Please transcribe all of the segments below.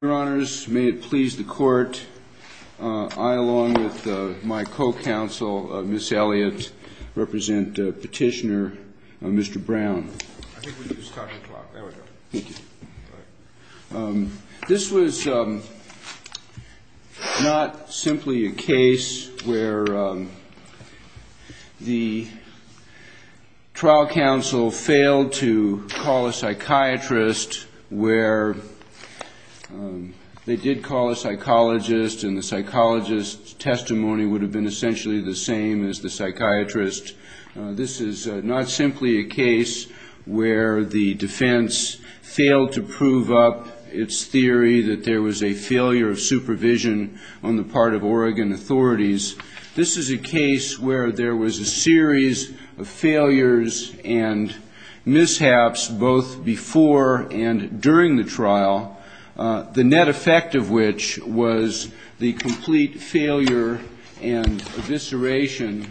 Your Honors, may it please the Court, I, along with my co-counsel, Ms. Elliott, represent Petitioner Mr. Brown. This was not simply a case where the trial counsel failed to call a psychiatrist where they did call a psychologist and the psychologist's testimony would have been essentially the same as the psychiatrist. This is not simply a case where the defense failed to prove up its theory that there was a failure of supervision on the part of Oregon authorities. This is a case where there was a series of failures and mishaps both before and during the trial, the net effect of which was the complete failure and evisceration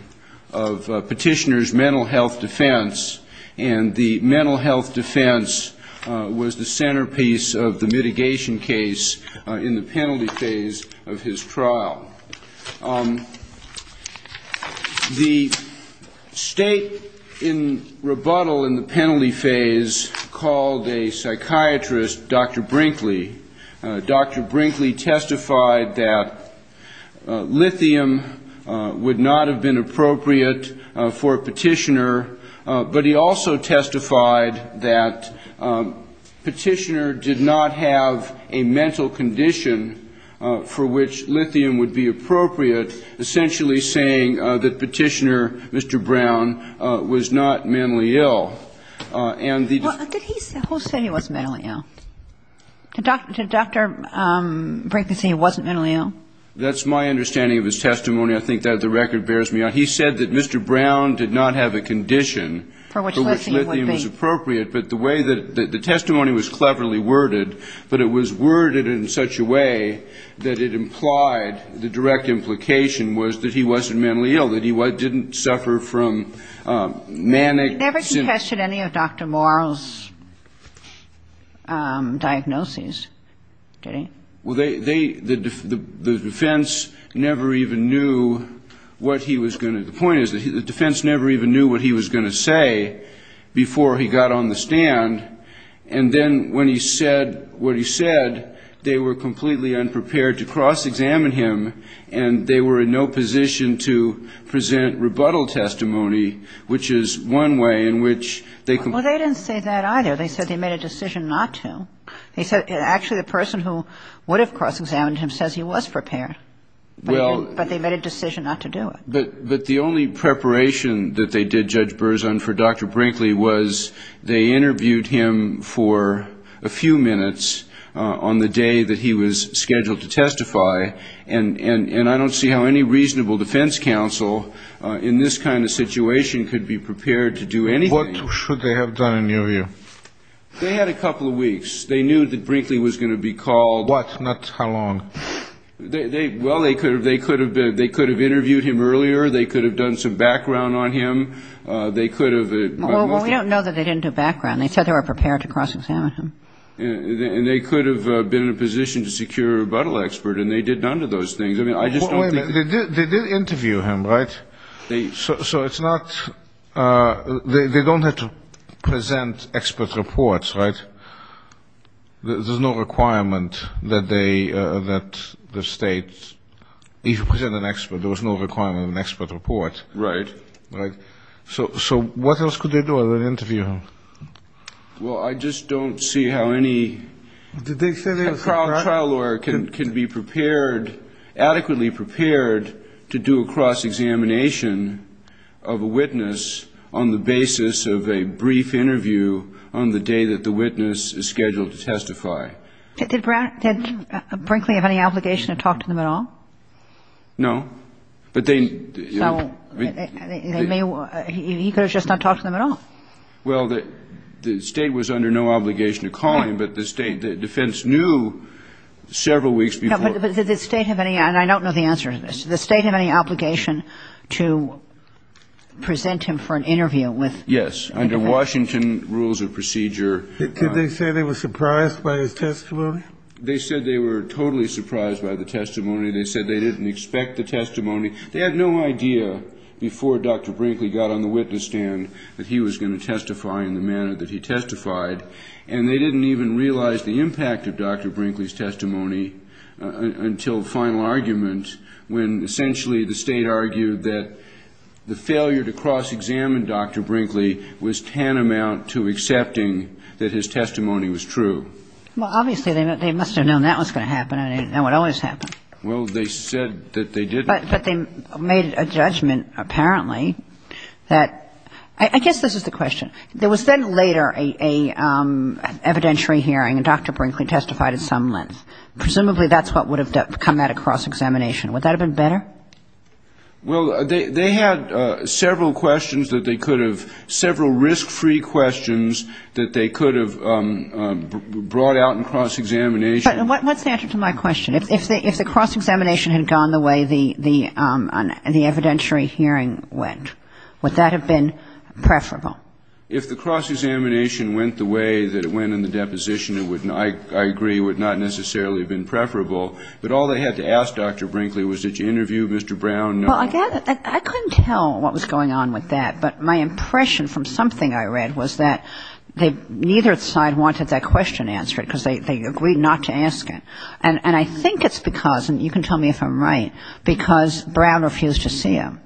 of Petitioner's mental health defense, and the mental health defense was the centerpiece of the mitigation case in the penalty phase of his trial. The state in rebuttal in the penalty phase called a psychiatrist, Dr. Brinkley. Dr. Brinkley testified that lithium would not have been appropriate for Petitioner, but he also testified that Petitioner did not have a mental condition for which lithium would be appropriate, essentially saying that Petitioner, Mr. Brown, was not mentally ill, and the defense on the part of Oregon authorities. Who said he was mentally ill? Did Dr. Brinkley say he wasn't mentally ill? That's my understanding of his testimony. I think that the record bears me out. He said that Mr. Brown did not have a condition for which lithium was appropriate, but the way that the testimony was cleverly worded, but it was worded in such a way that it implied the direct implication was that he wasn't mentally ill, that he didn't suffer from manic symptoms. He never contested any of Dr. Morrill's diagnoses, did he? Well, they, the defense never even knew what he was going to, the point is the defense never even knew what he was going to say before he got on the stand, and then when he said what he said, they were completely unprepared to cross-examine him, and they were in no position to present rebuttal testimony, which is one way in which they could. Well, they didn't say that either. They said they made a decision not to. They said actually the person who would have cross-examined him says he was prepared, but they made a decision not to do it. But the only preparation that they did, Judge Berzon, for Dr. Brinkley was they interviewed him for a few minutes on the day that he was scheduled to testify, and I don't see how any reasonable defense counsel in this kind of situation could be prepared to do anything. What should they have done in your view? They had a couple of weeks. They knew that Brinkley was going to be called. What? Not how long? Well, they could have interviewed him earlier. They could have done some background on him. They could have... Well, we don't know that they didn't do background. They said they were prepared to cross-examine him. And they could have been in a position to secure a rebuttal expert, and they did none of those things. I just don't think... Wait a minute. They did interview him, right? So it's not... They don't have to present expert reports, right? There's no requirement that the state... If you present an expert, there was no requirement of an expert report. Right. Right. So what else could they do other than interview him? Well, I just don't see how any... Did they say they were prepared? Well, a trial lawyer can be prepared, adequately prepared, to do a cross-examination of a witness on the basis of a brief interview on the day that the witness is scheduled to testify. Did Brinkley have any obligation to talk to them at all? No. But they... So he could have just not talked to them at all? Well, the State was under no obligation to call him, but the State... The defense knew several weeks before... But did the State have any... And I don't know the answer to this. Did the State have any obligation to present him for an interview with... Yes. Under Washington rules of procedure... Did they say they were surprised by his testimony? They said they were totally surprised by the testimony. They said they didn't expect the testimony. They had no idea before Dr. Brinkley got on the witness stand that he was going to testify in the manner that he testified. And they didn't even realize the impact of Dr. Brinkley's testimony until the final argument, when essentially the State argued that the failure to cross-examine Dr. Brinkley was tantamount to accepting that his testimony was true. Well, obviously, they must have known that was going to happen and it would always happen. Well, they said that they didn't. But they made a judgment, apparently, that... I guess this is the question. There was then later an evidentiary hearing and Dr. Brinkley testified at some length. Presumably that's what would have come out of cross-examination. Would that have been better? Well, they had several questions that they could have... several risk-free questions that they could have brought out in cross-examination. But what's the answer to my question? If the cross-examination had gone the way the evidentiary hearing went, would that have been preferable? If the cross-examination went the way that it went in the deposition, I agree, it would not necessarily have been preferable. But all they had to ask Dr. Brinkley was, did you interview Mr. Brown? Well, I couldn't tell what was going on with that. But my impression from something I read was that neither side wanted that question answered because they agreed not to ask it. And I think it's because, and you can tell me if I'm right, because Brown refused to see him.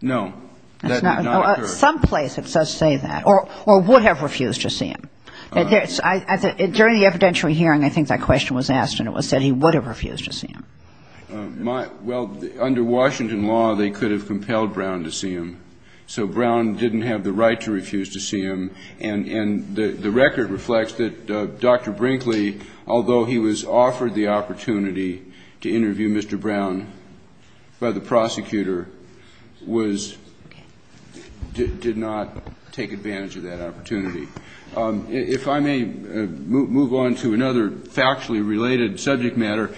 No, that's not true. Some place it does say that, or would have refused to see him. During the evidentiary hearing, I think that question was asked and it was said he would have refused to see him. Well, under Washington law, they could have compelled Brown to see him. So Brown didn't have the right to refuse to see him. And the record reflects that Dr. Brinkley, although he was offered the opportunity to interview Mr. Brown by the prosecutor, did not take advantage of that opportunity. If I may move on to another factually related subject matter,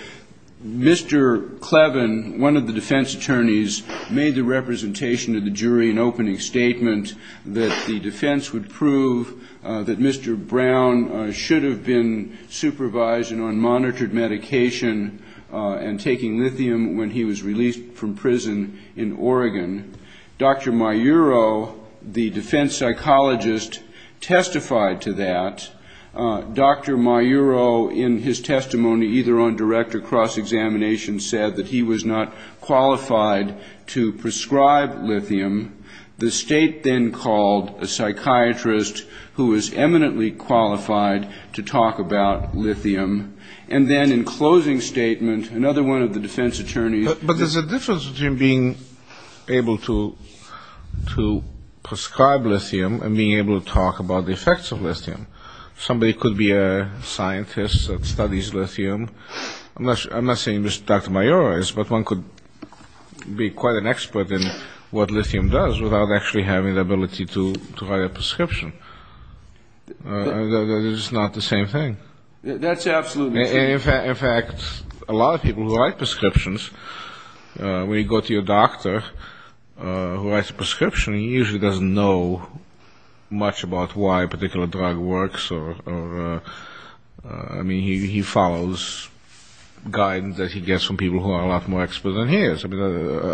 Mr. Clevin, one of the defense attorneys, made the representation to the jury an opening statement that the defense would prove that Mr. Brown should have been supervised and on monitored medication and taking lithium when he was released from prison in Oregon. Dr. Maiuro, the defense psychologist, testified to that. Dr. Maiuro, in his testimony either on direct or cross-examination, said that he was not qualified to prescribe lithium. The state then called a psychiatrist who was eminently qualified to talk about lithium. And then in closing statement, another one of the defense attorneys... But there's a difference between being able to prescribe lithium and being able to talk about the effects of lithium. Somebody could be a scientist that could be quite an expert in what lithium does without actually having the ability to write a prescription. They're just not the same thing. That's absolutely true. In fact, a lot of people who write prescriptions, when you go to your doctor who writes a prescription, he usually doesn't know much about why a particular drug works. I mean, he follows guidance that he gets from people who are a lot more expert than he is. I mean,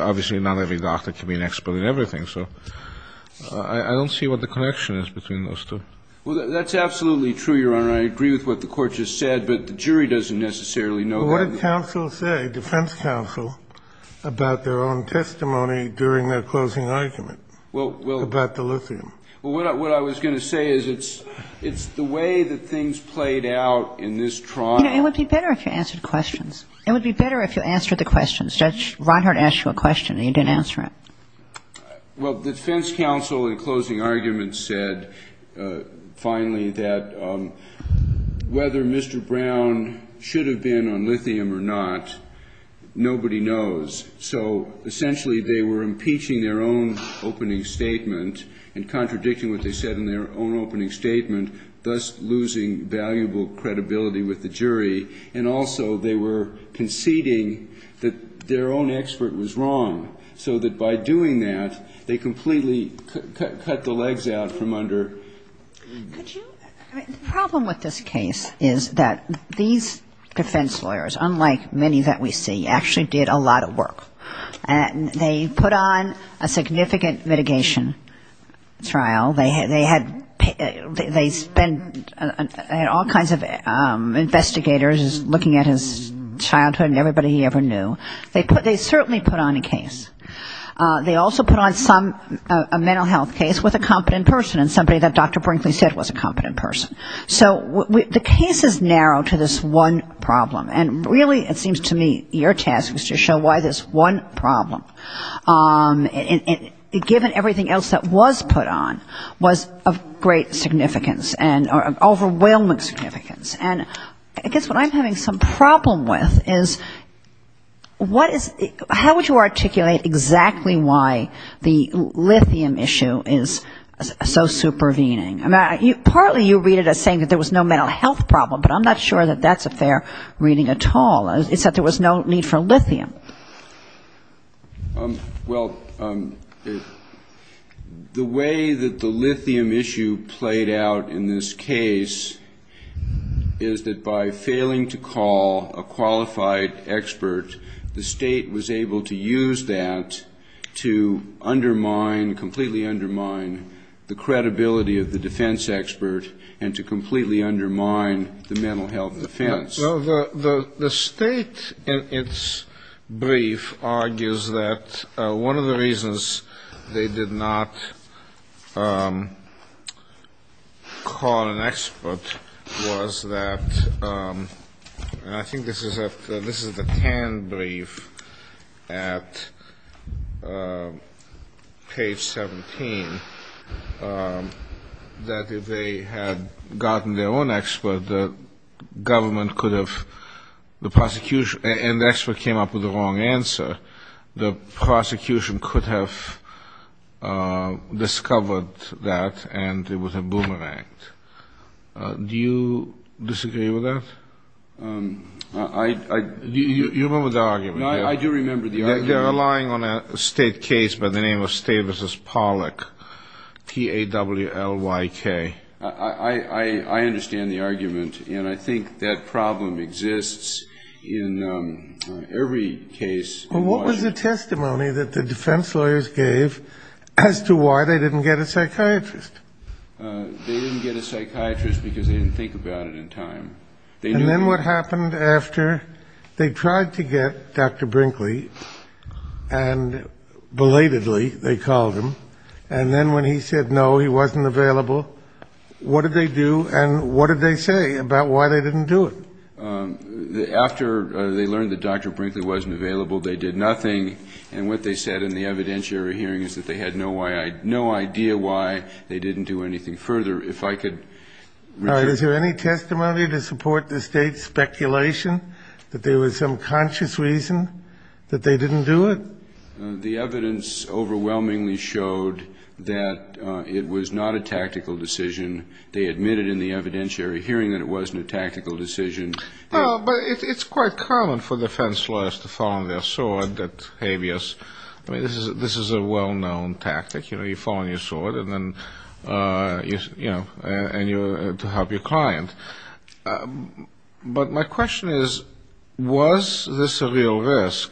obviously not every doctor can be an expert in everything. So I don't see what the connection is between those two. Well, that's absolutely true, Your Honor. I agree with what the Court just said, but the jury doesn't necessarily know that. Well, what did counsel say, defense counsel, about their own testimony during their closing argument about the lithium? Well, what I was going to say is it's the way that things played out in this trial... You know, it would be better if you answered questions. It would be better if you answered the questions. Judge Reinhardt asked you a question and you didn't answer it. Well, the defense counsel in closing argument said finally that whether Mr. Brown should have been on lithium or not, nobody knows. So essentially they were impeaching their own opening statement and contradicting what they said in their own opening statement, thus losing valuable credibility with the jury, and also they were conceding that their own expert was wrong, so that by doing that, they completely cut the legs out from under... Could you... I mean, the problem with this case is that these defense lawyers, unlike many that we see, actually did a lot of work. They put on a significant mitigation trial. They had all kinds of investigators looking at his childhood and everybody he ever knew. They certainly put on a case. They also put on a mental health case with a competent person and somebody that Dr. Brinkley said was a competent person. So the case is narrow to this one problem, and really it seems to me your task was to show why this one problem, it gives everything else that was put on, was of great significance and of overwhelming significance. And I guess what I'm having some problem with is what is... How would you articulate exactly why the lithium issue is so supervening? I mean, partly you read it as saying that there was no mental health problem, but I'm not sure that that's a fair reading at all. It's that there was no need for lithium. Well, the way that the lithium issue played out in this case is that by failing to call a qualified expert, the state was able to use that to undermine, completely undermine the credibility of the defense expert and to completely undermine the mental health defense. Well, the state in its brief argues that one of the reasons they did not call an expert was that, and I think this is the Tann brief at page 17, that if they had gotten their own expert, the government could have, the prosecution, and the expert came up with the wrong answer, the prosecution could have discovered that and it was a boomerang. Do you disagree with that? You remember the argument? No, I do remember the argument. They're relying on a state case by the name of Stavisas Pollock, T-A-W-L-Y-K. I understand the argument and I think that problem exists in every case. Well, what was the testimony that the defense lawyers gave as to why they didn't get a psychiatrist? They didn't get a psychiatrist because they didn't think about it in time. And then what happened after they tried to get Dr. Brinkley and belatedly they called him and then when he said no, he wasn't available, what did they do and what did they say about why they didn't do it? After they learned that Dr. Brinkley wasn't available, they did nothing and what they said in the evidentiary hearing is that they had no idea why they didn't do anything further. Is there any testimony to support the state's speculation that there was some conscious reason that they didn't do it? The evidence overwhelmingly showed that it was not a tactical decision. They admitted in the evidentiary hearing that it wasn't a tactical decision. Well, but it's quite common for defense lawyers to fall on their sword that habeas, I mean, this is a well-known tactic, you know, you fall on your sword and then, you know, to help your client. But my question is, was this a real risk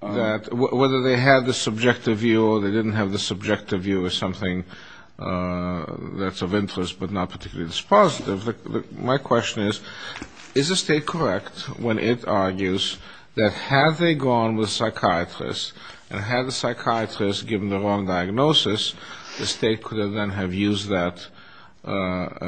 that whether they had the subjective view or they didn't have the subjective view of something that's of interest but not particularly that's positive, my question is, is the state correct when it argues that had they gone with psychiatrists and had the psychiatrists given the wrong diagnosis, the state could have then have used that,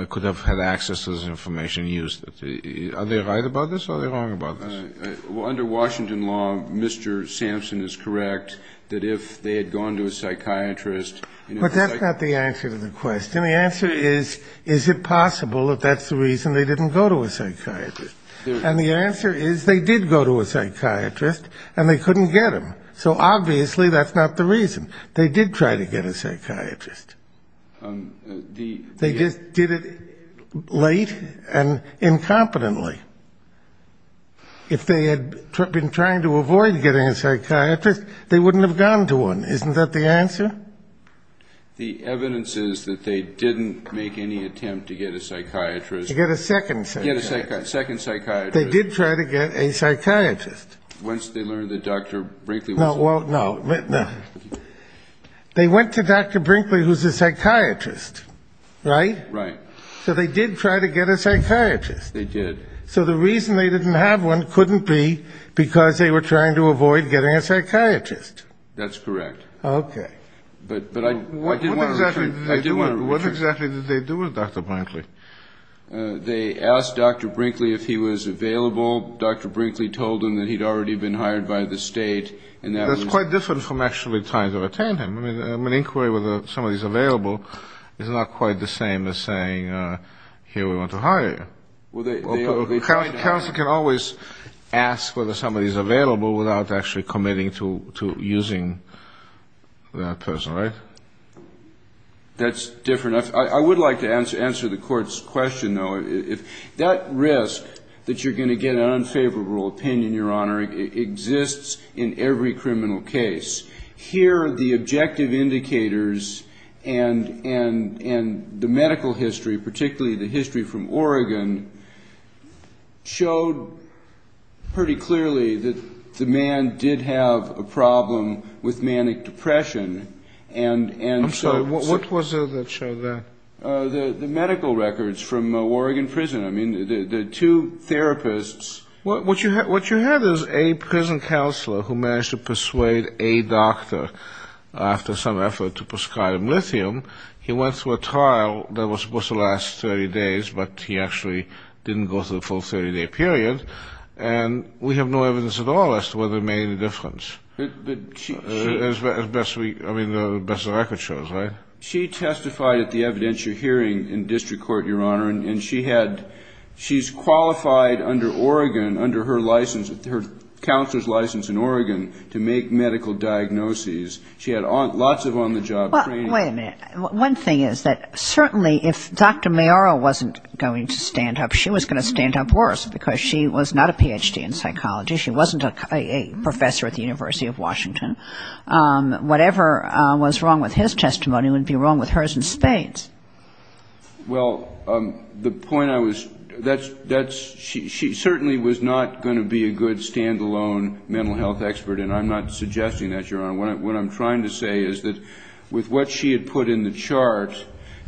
could have had access to this information and used it. Are they right about this or are they wrong about this? Under Washington law, Mr. Sampson is correct that if they had gone to a psychiatrist... But that's not the answer to the question. The answer is, is it possible that that's the reason they didn't go to a psychiatrist? And the answer is they did go to a psychiatrist and they couldn't get him. So obviously that's not the reason. They did try to get a psychiatrist. They just did it late and incompetently. If they had been trying to avoid getting a psychiatrist, they wouldn't have gone to one. Isn't that the answer? The evidence is that they didn't make any attempt to get a psychiatrist. To get a second psychiatrist. They did try to get a psychiatrist. Once they learned that Dr. Brinkley was... No, well, no. They went to Dr. Brinkley, who's a psychiatrist, right? Right. So they did try to get a psychiatrist. They did. So the reason they didn't have one couldn't be because they were trying to avoid getting a psychiatrist. That's correct. Okay. But I didn't want to... What exactly did they do with Dr. Brinkley? They asked Dr. Brinkley if he was available. Dr. Brinkley told them that he'd already been hired by the state. And that was... That's quite different from actually trying to retain him. I mean, an inquiry whether somebody's available is not quite the same as saying, here, we want to hire you. Counsel can always ask whether somebody's available without actually committing to using that person, right? That's different. I would like to answer the Court's question, though. That risk that you're going to get an unfavorable opinion, Your Honor, exists in every criminal case. Here, the objective indicators and the medical history, particularly the history from Oregon, showed pretty clearly that the man did have a problem with manic depression. I'm sorry. What was the show there? The medical records from Oregon Prison. I mean, the two therapists... What you have is a prison counselor who managed to persuade a doctor, after some effort, to prescribe him lithium. He went through a trial that was supposed to last 30 days, but he actually didn't go through the full 30-day period. And we have no evidence at all as to whether it made any difference. But she... As best we... I mean, the best the record shows, right? She testified at the evidentiary hearing in District Court, Your Honor, and she had... She's qualified under Oregon, under her license, her counselor's license in Oregon, to make medical diagnoses. She had lots of on-the-job training. Well, wait a minute. One thing is that certainly if Dr. Mayaro wasn't going to stand up, she was going to stand up worse, because she was not a Ph.D. in psychology. She wasn't a professor at the University of Washington. Whatever was wrong with his testimony wouldn't be wrong with hers in spades. Well, the point I was... That's... She certainly was not going to be a good stand-alone mental health expert, and I'm not suggesting that, Your Honor. What I'm trying to say is that with what she had put in the chart,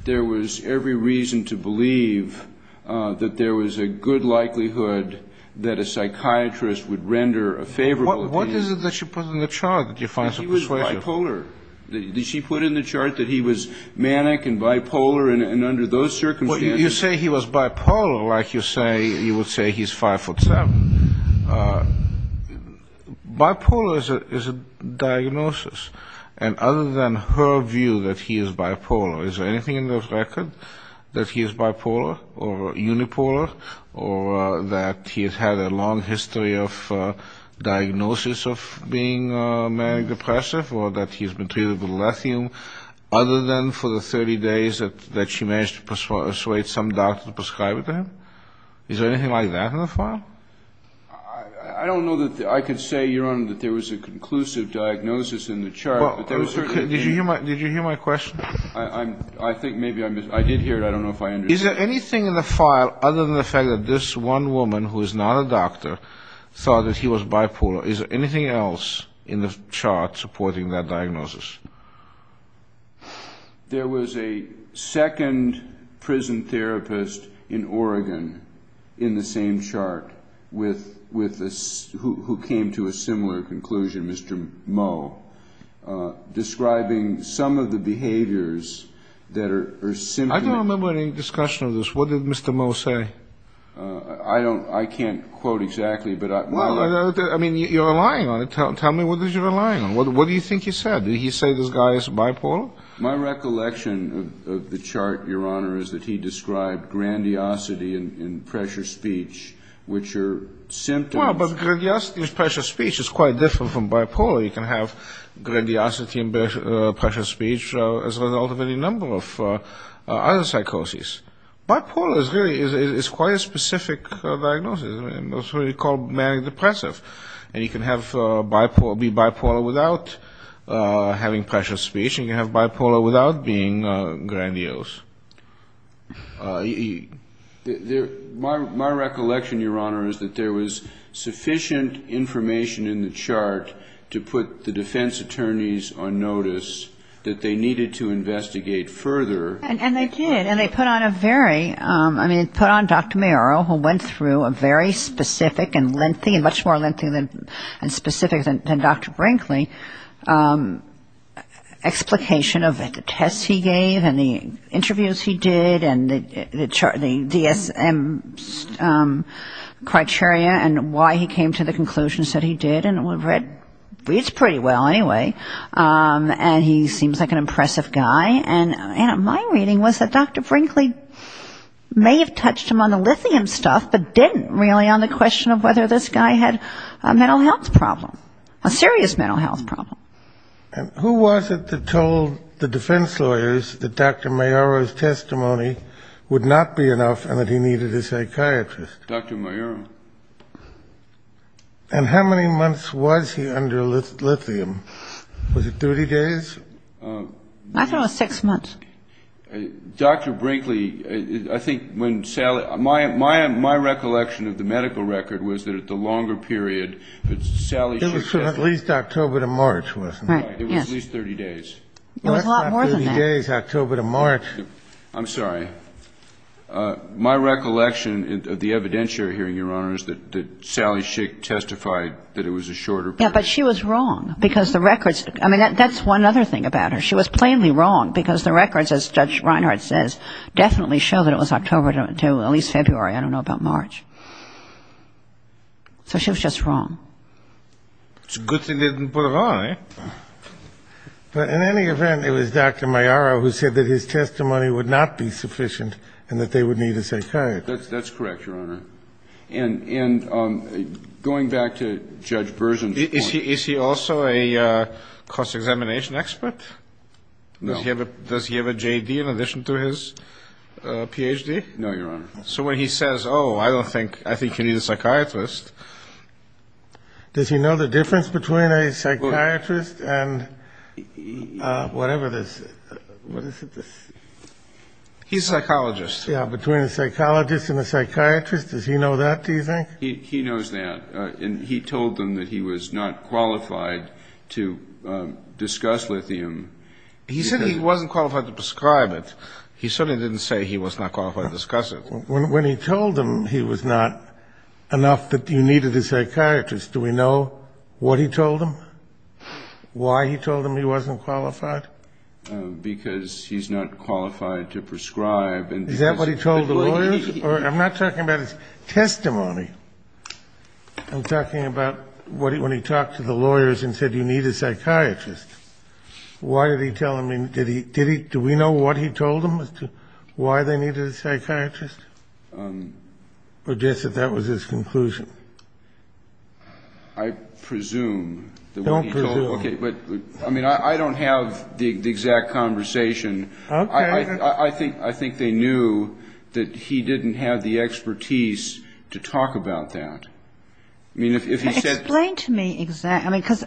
there was every reason to believe that there was a good likelihood that a psychiatrist would render a favorable opinion. What is it that she put in the chart? That he was bipolar. Did she put in the chart that he was manic and bipolar and under those circumstances... Well, you say he was bipolar like you would say he's 5'7". Bipolar is a diagnosis, and other than her view that he is bipolar, is there anything in the record that he is bipolar or unipolar or that he has had a long history of diagnosis of being manic-depressive or that he has been treated with lithium other than for the 30 days that she managed to persuade some doctor to prescribe it to him? Is there anything like that in the file? I don't know that... I could say, Your Honor, that there was a conclusive diagnosis in the chart, but there was certainly... Did you hear my question? I think maybe I mis... I did hear it. I don't know if I understood. Is there anything in the file other than the fact that this one woman, who is not a doctor, thought that he was bipolar? Is there anything else in the chart supporting that diagnosis? There was a second prison therapist in Oregon in the same chart with... who came to a similar conclusion, Mr. Moe, describing some of the behaviors that are... I don't remember any discussion of this. What did Mr. Moe say? I don't... I can't quote exactly, but I... Well, I mean, you're relying on it. Tell me what you're relying on. What do you think he said? Did he say this guy is bipolar? My recollection of the chart, Your Honor, is that he described grandiosity and pressure speech, which are symptoms... Well, but grandiosity and pressure speech is quite different from bipolar. You can have grandiosity and pressure speech as a result of any number of other psychoses. Bipolar is really quite a specific diagnosis. It's really called manic depressive. And you can be bipolar without having pressure speech, and you can have bipolar without being grandiose. My recollection, Your Honor, is that there was sufficient information in the chart to put the defense attorneys on notice that they needed to investigate further. And they did, and they put on a very... I mean, they put on Dr. Mayoral, who went through a very specific and lengthy, and much more lengthy and specific than Dr. Brinkley, explication of the tests he gave and the interviews he did and the DSM criteria and why he came to the conclusion that he did, and it reads pretty well anyway. And he seems like an impressive guy. And my reading was that Dr. Brinkley may have touched him on the lithium stuff, but didn't really on the question of whether this guy had a mental health problem, a serious mental health problem. And who was it that told the defense lawyers that Dr. Mayoral's testimony would not be enough and that he needed a psychiatrist? Dr. Mayoral. And how many months was he under lithium? Was it 30 days? I thought it was six months. Dr. Brinkley, I think when Sally — my recollection of the medical record was that at the longer period, that Sally — It was from at least October to March, wasn't it? Right, yes. It was at least 30 days. It was a lot more than that. It wasn't 30 days, October to March. I'm sorry. My recollection of the evidentiary hearing, Your Honor, is that Sally Schick testified that it was a shorter period. Yes, but she was wrong because the records — I mean, that's one other thing about her. She was plainly wrong because the records, as Judge Reinhart says, definitely show that it was October to at least February. I don't know about March. So she was just wrong. It's a good thing they didn't put her on, eh? But in any event, it was Dr. Maiaro who said that his testimony would not be sufficient and that they would need a psychiatrist. That's correct, Your Honor. And going back to Judge Bersin's point — Is he also a cost-examination expert? No. Does he have a J.D. in addition to his Ph.D.? No, Your Honor. So when he says, oh, I don't think — I think you need a psychiatrist — Does he know the difference between a psychiatrist and whatever this — what is it? He's a psychologist. Yeah, between a psychologist and a psychiatrist. Does he know that, do you think? He knows that. And he told them that he was not qualified to discuss lithium. He said he wasn't qualified to prescribe it. He certainly didn't say he was not qualified to discuss it. When he told them he was not enough, that you needed a psychiatrist, do we know what he told them? Why he told them he wasn't qualified? Because he's not qualified to prescribe. Is that what he told the lawyers? I'm not talking about his testimony. I'm talking about when he talked to the lawyers and said you need a psychiatrist. Why did he tell them — did he — do we know what he told them as to why they needed a psychiatrist? Or just that that was his conclusion? I presume. Don't presume. Okay. But, I mean, I don't have the exact conversation. Okay. I think they knew that he didn't have the expertise to talk about that. I mean, if he said — Explain to me exactly — I mean, because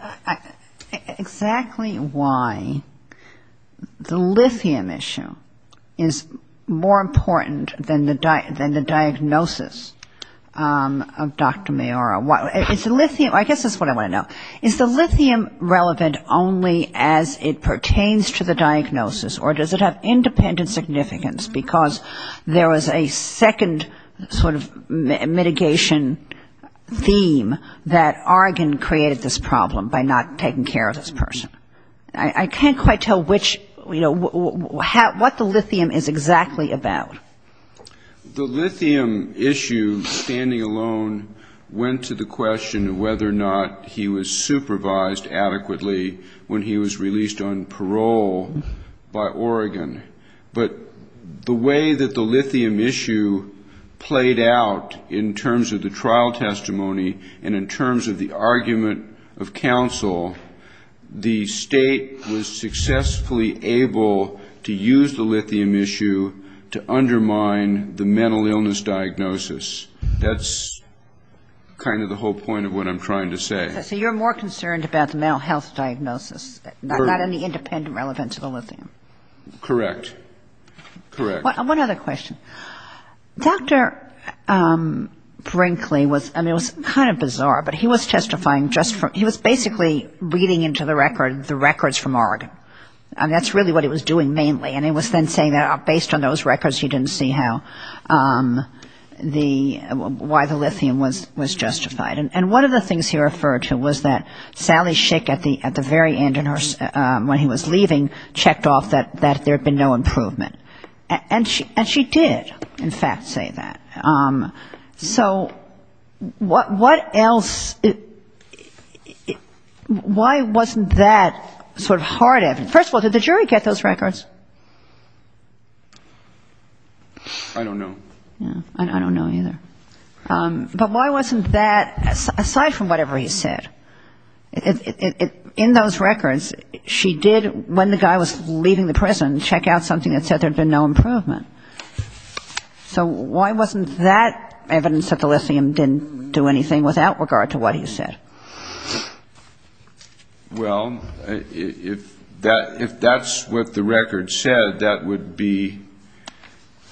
exactly why the lithium issue is more important than the diagnosis of Dr. Mayura. Is the lithium — I guess that's what I want to know. Is the lithium relevant only as it pertains to the diagnosis, or does it have independent significance? Because there was a second sort of mitigation theme that Oregon created this problem by not taking care of this person. I can't quite tell which — you know, what the lithium is exactly about. The lithium issue, standing alone, went to the question of whether or not he was supervised adequately when he was released on parole by Oregon. But the way that the lithium issue played out in terms of the trial testimony and in terms of the argument of counsel, the State was successfully able to use the lithium issue to undermine the mental illness diagnosis. That's kind of the whole point of what I'm trying to say. So you're more concerned about the mental health diagnosis, not any independent relevance of the lithium. Correct. Correct. One other question. Dr. Brinkley was — I mean, it was kind of bizarre, but he was testifying just for — he was basically reading into the record the records from Oregon. And that's really what he was doing mainly. And he was then saying that based on those records, he didn't see how the — why the lithium was justified. And one of the things he referred to was that Sally Schick at the very end, when he was leaving, checked off that there had been no improvement. And she did, in fact, say that. So what else — why wasn't that sort of hard evidence? First of all, did the jury get those records? I don't know. I don't know either. But why wasn't that, aside from whatever he said, in those records, she did, when the guy was leaving the prison, check out something that said there had been no improvement. So why wasn't that evidence that the lithium didn't do anything without regard to what he said? Well, if that's what the record said, that would be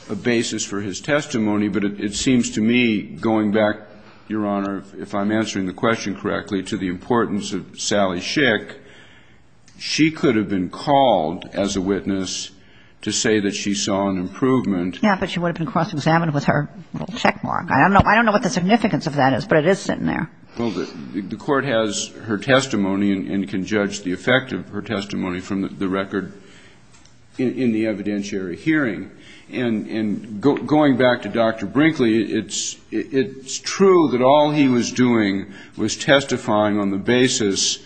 a basis for his testimony. But it seems to me, going back, Your Honor, if I'm answering the question correctly, to the importance of Sally Schick, she could have been called as a witness to say that she saw an improvement. Yeah, but she would have been cross-examined with her little checkmark. I don't know what the significance of that is, but it is sitting there. Well, the Court has her testimony and can judge the effect of her testimony from the record in the evidentiary hearing. And going back to Dr. Brinkley, it's true that all he was doing was testifying on the basis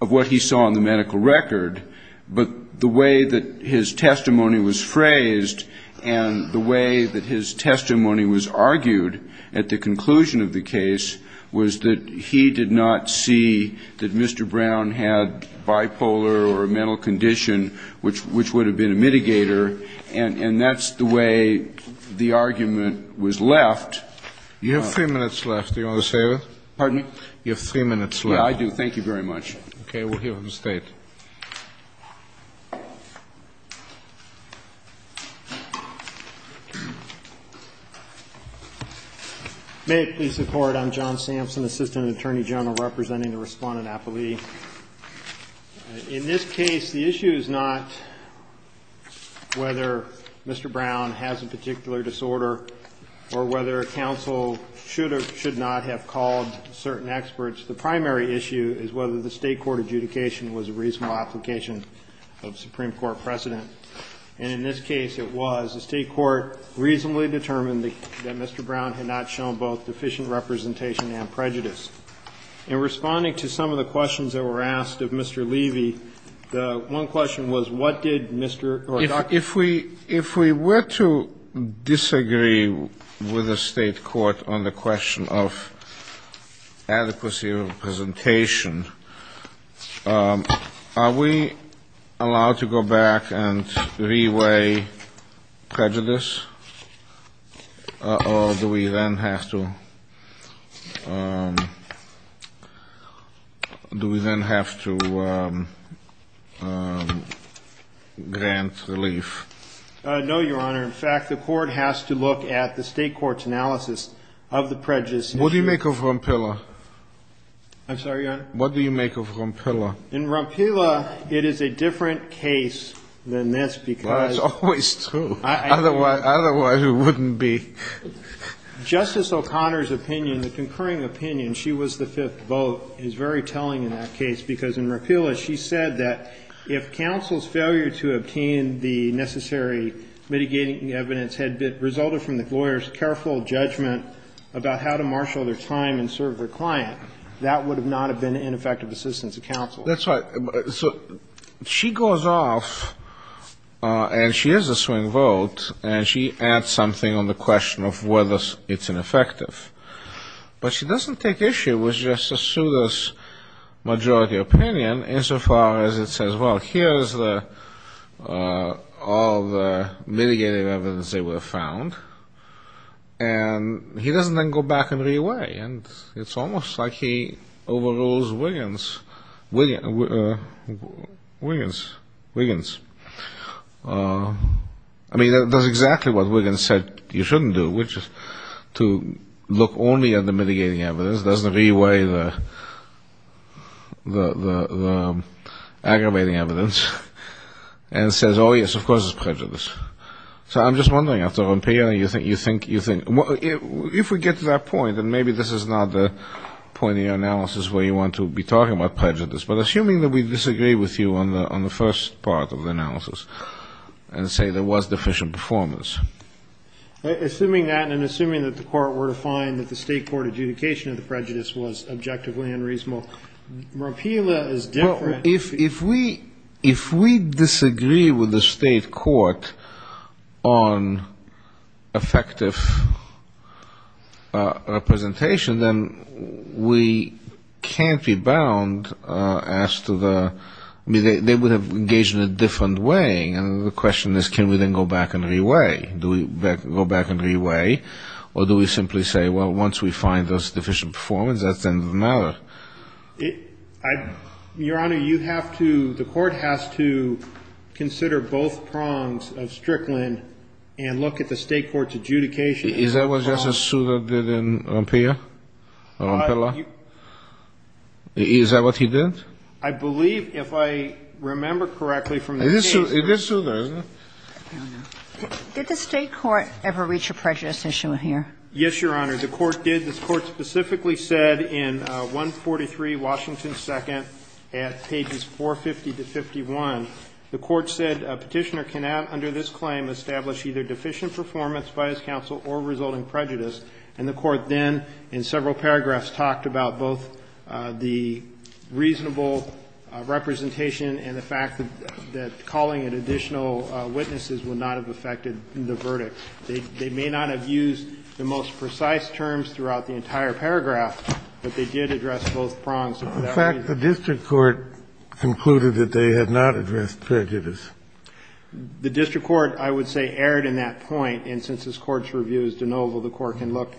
of what he saw on the medical record. But the way that his testimony was phrased and the way that his testimony was argued at the conclusion of the case was that it was that he did not see that Mr. Brown had bipolar or a mental condition, which would have been a mitigator. And that's the way the argument was left. You have three minutes left. Do you want to say that? Pardon me? You have three minutes left. Yeah, I do. Thank you very much. Okay. We'll hear from the State. May it please the Court, I'm John Sampson, Assistant Attorney General representing the Respondent Appellee. In this case, the issue is not whether Mr. Brown has a particular disorder or whether a counsel should or should not have called certain experts. The primary issue is whether the State court adjudication was a reasonable application of Supreme Court precedent. And in this case, it was. The State court reasonably determined that Mr. Brown had not shown both deficient representation and prejudice. In responding to some of the questions that were asked of Mr. Levy, the one question was, what did Mr. or Dr. Levy say? With the State court on the question of adequacy of representation, are we allowed to go back and re-weigh prejudice? Or do we then have to grant relief? No, Your Honor. In fact, the Court has to look at the State court's analysis of the prejudice issue. What do you make of Rompilla? I'm sorry, Your Honor? What do you make of Rompilla? In Rompilla, it is a different case than this because Well, that's always true. Otherwise, it wouldn't be. Justice O'Connor's opinion, the concurring opinion, she was the fifth vote, is very telling in that case because in Rompilla, she said that if counsel's failure to obtain the necessary mitigating evidence had resulted from the lawyer's careful judgment about how to marshal their time and serve their client, that would not have been an ineffective assistance to counsel. That's right. So she goes off, and she is a swing vote, and she adds something on the question of whether it's ineffective. But she doesn't take issue with Justice Souter's majority opinion insofar as it says, well, here's all the mitigating evidence they would have found, and he doesn't then go back and re-weigh, and it's almost like he overrules Wiggins. I mean, that's exactly what Wiggins said you shouldn't do, which is to look only at the mitigating evidence, doesn't re-weigh the aggravating evidence, and says, oh, yes, of course it's prejudice. So I'm just wondering, after Rompilla, if we get to that point, and maybe this is not the point of your analysis where you want to be talking about it, about prejudice, but assuming that we disagree with you on the first part of the analysis and say there was deficient performance. Assuming that and assuming that the court were to find that the state court adjudication of the prejudice was objectively unreasonable, Rompilla is different. If we disagree with the state court on effective representation, then we can't be bound as to the they would have engaged in a different way, and the question is can we then go back and re-weigh? Do we go back and re-weigh, or do we simply say, well, once we find there's deficient performance, that's the end of the matter? Your Honor, you have to, the court has to consider both prongs of Strickland and look at the state court's adjudication. Is that what Justice Souter did in Rompilla? Is that what he did? I believe, if I remember correctly from the case. It is Souter, isn't it? Did the state court ever reach a prejudice issue here? Yes, Your Honor. The court did. The court specifically said in 143, Washington II, at pages 450 to 51, the court said a Petitioner cannot under this claim establish either deficient performance by his counsel or resulting prejudice. And the court then in several paragraphs talked about both the reasonable representation and the fact that calling it additional witnesses would not have affected the verdict. They may not have used the most precise terms throughout the entire paragraph, but they did address both prongs. In fact, the district court concluded that they had not addressed prejudice. The district court, I would say, erred in that point. And since this Court's review is de novo, the Court can look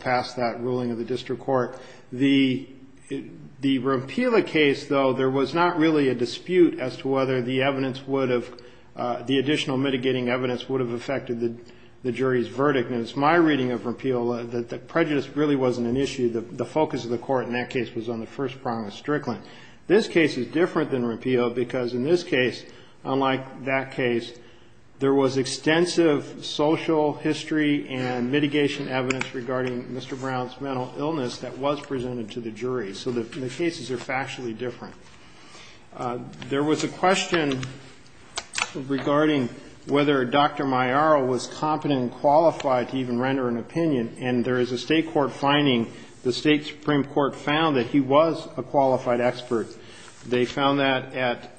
past that ruling of the district court. The Rompilla case, though, there was not really a dispute as to whether the evidence would have the additional mitigating evidence would have affected the jury's verdict. And it's my reading of Rompilla that prejudice really wasn't an issue. The focus of the court in that case was on the first prong of Strickland. This case is different than Rompilla because in this case, unlike that case, there was extensive social history and mitigation evidence regarding Mr. Brown's mental illness that was presented to the jury. So the cases are factually different. There was a question regarding whether Dr. Maiaro was competent and qualified to even render an opinion. And there is a State court finding, the State Supreme Court found, that he was a qualified expert. They found that at,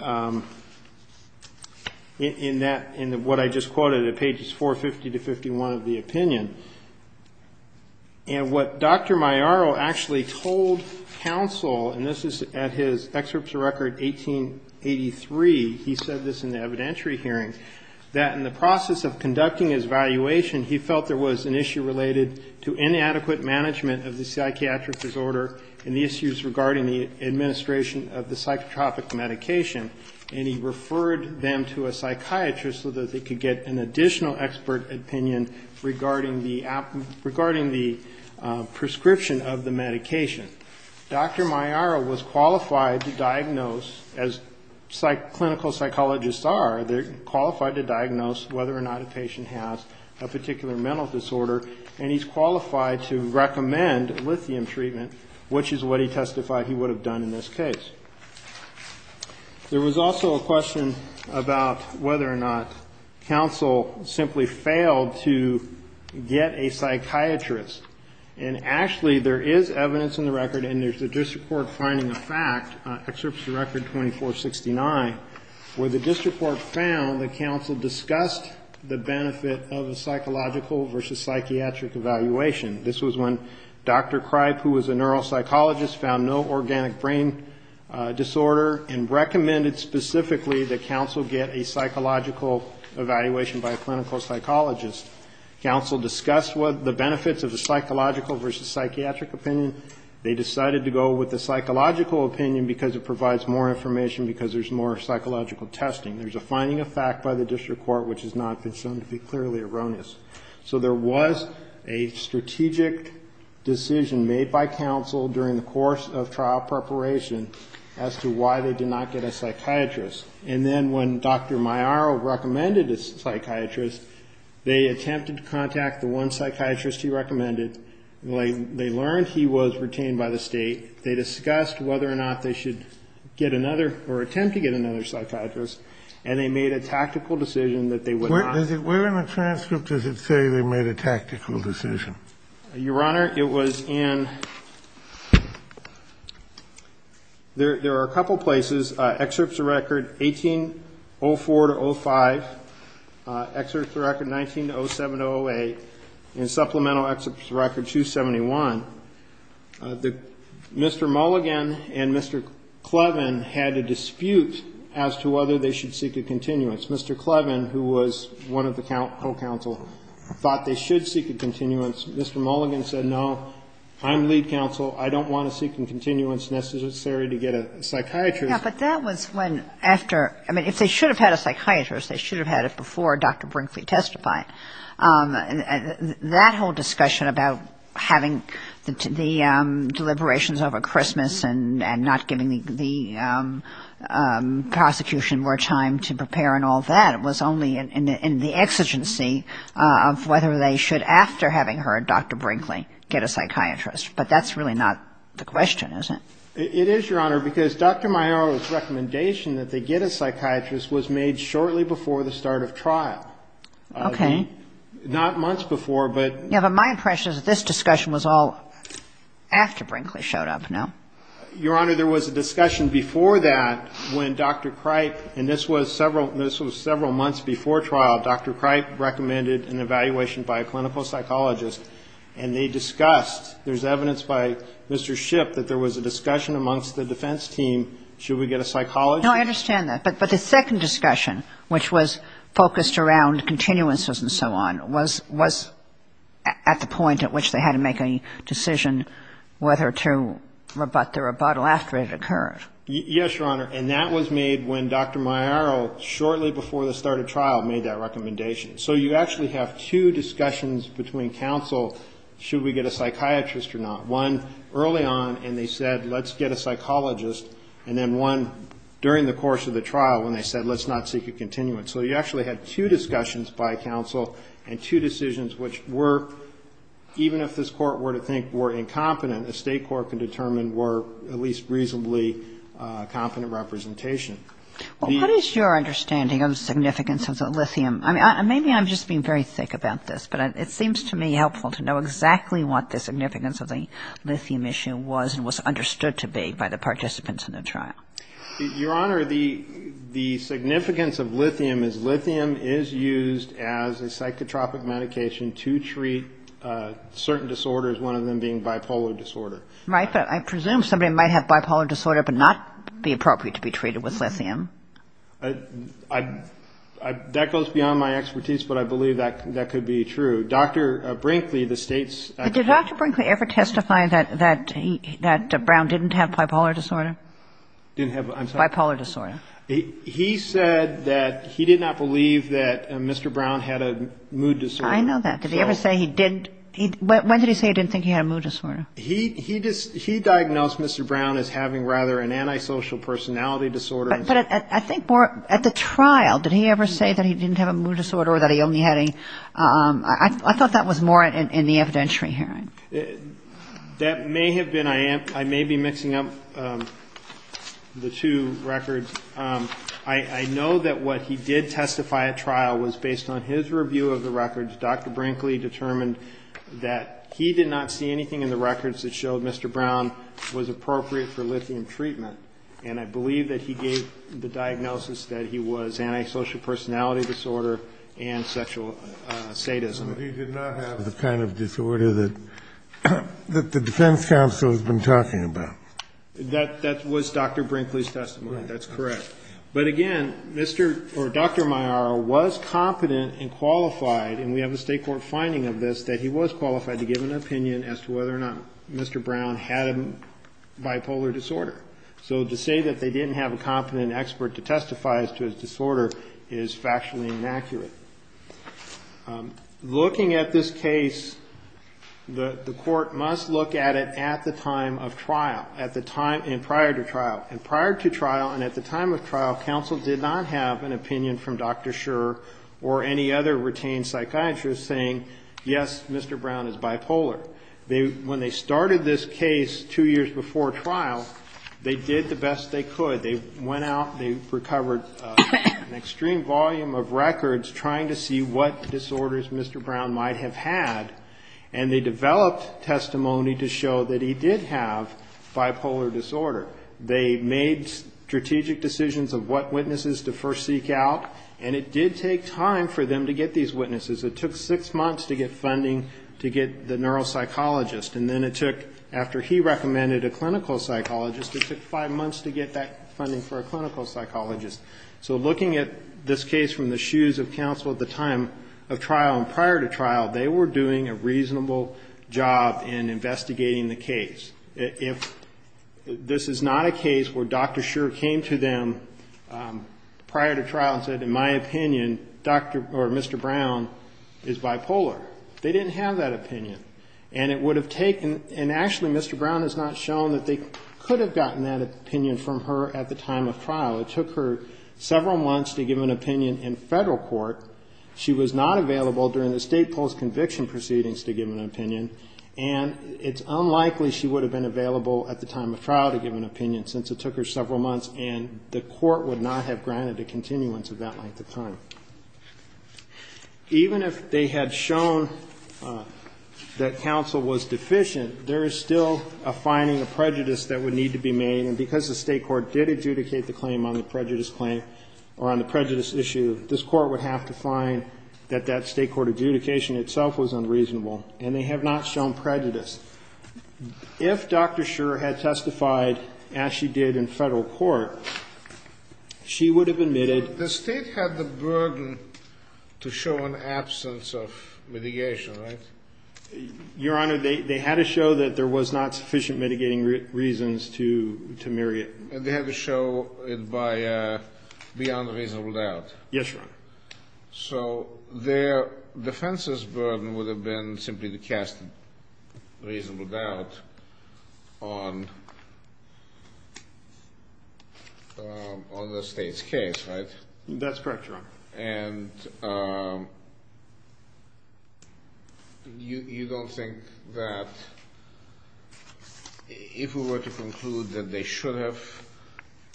in that, in what I just quoted at pages 450 to 51 of the opinion. And what Dr. Maiaro actually told counsel, and this is at his excerpt to record 1883, he said this in the evidentiary hearing, that in the process of conducting his evaluation, he felt there was an issue related to inadequate management of the psychiatric disorder and the issues regarding the administration of the psychotropic medication. And he referred them to a psychiatrist so that they could get an additional expert opinion regarding the prescription of the medication. Dr. Maiaro was qualified to diagnose, as clinical psychologists are, they're qualified to diagnose whether or not a patient has a particular mental disorder, and he's qualified to recommend lithium treatment, which is what he testified he would have done in this case. There was also a question about whether or not counsel simply failed to get a psychiatrist. And actually there is evidence in the record, and there's a district court finding the fact, excerpt to record 2469, where the district court found that counsel discussed the benefit of a psychological versus psychiatric evaluation. This was when Dr. Cripe, who was a neuropsychologist, found no organic brain disorder and recommended specifically that counsel get a psychological evaluation by a clinical psychologist. Counsel discussed the benefits of the psychological versus psychiatric opinion. They decided to go with the psychological opinion because it provides more information, because there's more psychological testing. There's a finding of fact by the counsel during the course of trial preparation as to why they did not get a psychiatrist. And then when Dr. Maiaro recommended a psychiatrist, they attempted to contact the one psychiatrist he recommended. They learned he was retained by the state. They discussed whether or not they should get another or attempt to get another psychiatrist, and they made a tactical decision that they would not. And is it where in the transcript does it say they made a tactical decision? Your Honor, it was in, there are a couple places, excerpt to record 1804-05, excerpt to record 19-07-08, and supplemental excerpt to record 271. Mr. Mulligan and Mr. Clevin had a dispute as to whether they should seek a continuance. Mr. Clevin, who was one of the co-counsel, thought they should seek a continuance. Mr. Mulligan said, no, I'm lead counsel. I don't want to seek a continuance necessary to get a psychiatrist. Yeah, but that was when, after, I mean, if they should have had a psychiatrist, they should have had it before Dr. Brinkley testified. And that whole discussion about having the deliberations over Christmas and not giving the prosecution more time to prepare and all that was only in the exigency of whether they should, after having heard Dr. Brinkley, get a psychiatrist. But that's really not the question, is it? It is, Your Honor, because Dr. Maioro's recommendation that they get a psychiatrist was made shortly before the start of trial. Okay. Not months before, but. Yeah, but my impression is that this discussion was all after Brinkley showed up, no? Your Honor, there was a discussion before that when Dr. Cripe, and this was several months before trial, Dr. Cripe recommended an evaluation by a clinical psychologist and they discussed, there's evidence by Mr. Shipp that there was a discussion amongst the defense team, should we get a psychologist? No, I understand that. But the second discussion, which was focused around continuances and so on, was at the point at which they had to make a decision whether to report about the rebuttal after it occurred. Yes, Your Honor. And that was made when Dr. Maioro, shortly before the start of trial, made that recommendation. So you actually have two discussions between counsel, should we get a psychiatrist or not. One early on, and they said, let's get a psychologist, and then one during the course of the trial when they said, let's not seek a continuance. So you actually had two discussions by counsel and two decisions which were, even if this Court were to think were incompetent, the State Court can determine were at least reasonably competent representation. What is your understanding of the significance of lithium? I mean, maybe I'm just being very thick about this, but it seems to me helpful to know exactly what the significance of the lithium issue was and was understood to be by the participants in the trial. Your Honor, the significance of lithium is lithium is used as a psychotropic medication to treat certain disorders, one of them being bipolar disorder. Right, but I presume somebody might have bipolar disorder but not be appropriate to be treated with lithium. That goes beyond my expertise, but I believe that could be true. Dr. Brinkley, the State's Did Dr. Brinkley ever testify that Brown didn't have bipolar disorder? Didn't have what, I'm sorry? Bipolar disorder. He said that he did not believe that Mr. Brown had a mood disorder. I know that. Did he ever say he didn't? When did he say he didn't think he had a mood disorder? He diagnosed Mr. Brown as having rather an antisocial personality disorder. But I think more at the trial, did he ever say that he didn't have a mood disorder or that he only had a, I thought that was more in the evidentiary hearing. That may have been, I may be mixing up the two records. I know that what he did testify at trial was based on his review of the records. Dr. Brinkley determined that he did not see anything in the records that showed Mr. Brown was appropriate for lithium treatment. And I believe that he gave the diagnosis that he was antisocial personality disorder and sexual sadism. But he did not have the kind of disorder that the defense counsel has been talking about. That was Dr. Brinkley's testimony. That's correct. But again, Mr. or Dr. Maiara was competent and qualified, and we have a state court finding of this, that he was qualified to give an opinion as to whether or not Mr. Brown had a bipolar disorder. So to say that they didn't have a competent expert to testify as to his disorder is factually inaccurate. Looking at this case, the court must look at it at the time of trial, at the time and prior to trial. And prior to trial and at the time of trial, counsel did not have an opinion from Dr. Scherer or any other retained psychiatrist saying, yes, Mr. Brown is bipolar. When they started this case two years before trial, they did the best they could. They went out, they recovered an extreme volume of records trying to see what disorders Mr. Brown might have had, and they developed testimony to show that he did have bipolar disorder. They made strategic decisions of what witnesses to first seek out, and it did take time for them to get these witnesses. It took six months to get funding to get the neuropsychologist, and then it took, after he recommended a clinical psychologist, it took five months to get that funding for a clinical psychologist. So looking at this case from the shoes of counsel at the time of trial and prior to trial, they were doing a reasonable job in investigating the case. If this is not a case where Dr. Scherer came to them prior to trial and said, in my opinion, Mr. Brown is bipolar, they didn't have that opinion. And it would have taken, and actually Mr. Brown has not shown that they could have gotten that opinion from her at the time of trial. It took her several months to give an opinion in Federal court. She was not available during the state post-conviction proceedings to give an opinion, and it's unlikely she would have been available at the time of trial to give an opinion, since it took her several months and the court would not have granted a continuance of that length of time. Even if they had shown that counsel was deficient, there is still a finding of prejudice that would need to be made, and because the state court did adjudicate the claim on the prejudice claim, or on the prejudice issue, this Court would have to find that that state court adjudication itself was unreasonable, and they have not shown prejudice. If Dr. Scherer had testified as she did in Federal court, she would have admitted. The state had the burden to show an absence of mitigation, right? Your Honor, they had to show that there was not sufficient mitigating reasons to myriad. And they had to show it by beyond reasonable doubt. Yes, Your Honor. So their defense's burden would have been simply to cast reasonable doubt on the state's case, right? That's correct, Your Honor. And you don't think that if we were to conclude that they should have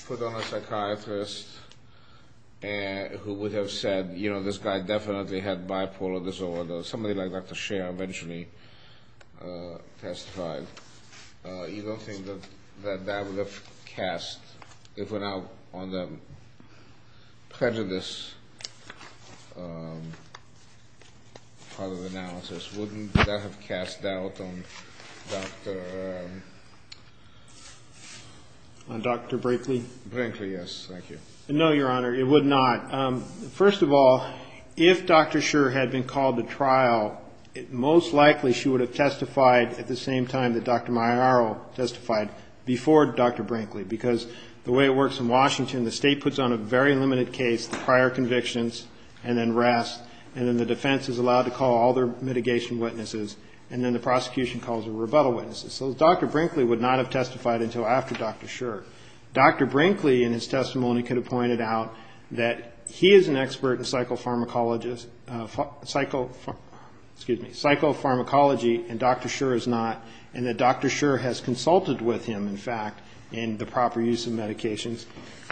put on a psychiatrist who would have said, you know, this guy definitely had bipolar disorder, somebody like Dr. Scherer eventually testified, you don't think that that would have cast, if it were not on the prejudice part of the analysis, wouldn't that have cast doubt on Dr. Brinkley? Brinkley, yes. Thank you. No, Your Honor, it would not. First of all, if Dr. Scherer had been called to trial, most likely she would have testified at the same time that Dr. Maiaro testified before Dr. Brinkley, because the way it works in Washington, the state puts on a very number of eyewitnesses. So Dr. Brinkley would not have testified until after Dr. Scherer. Dr. Brinkley in his testimony could have pointed out that he is an expert in psychopharmacology and Dr. Scherer is not, and that Dr. Scherer has consulted with him, in fact, in the proper use of medications.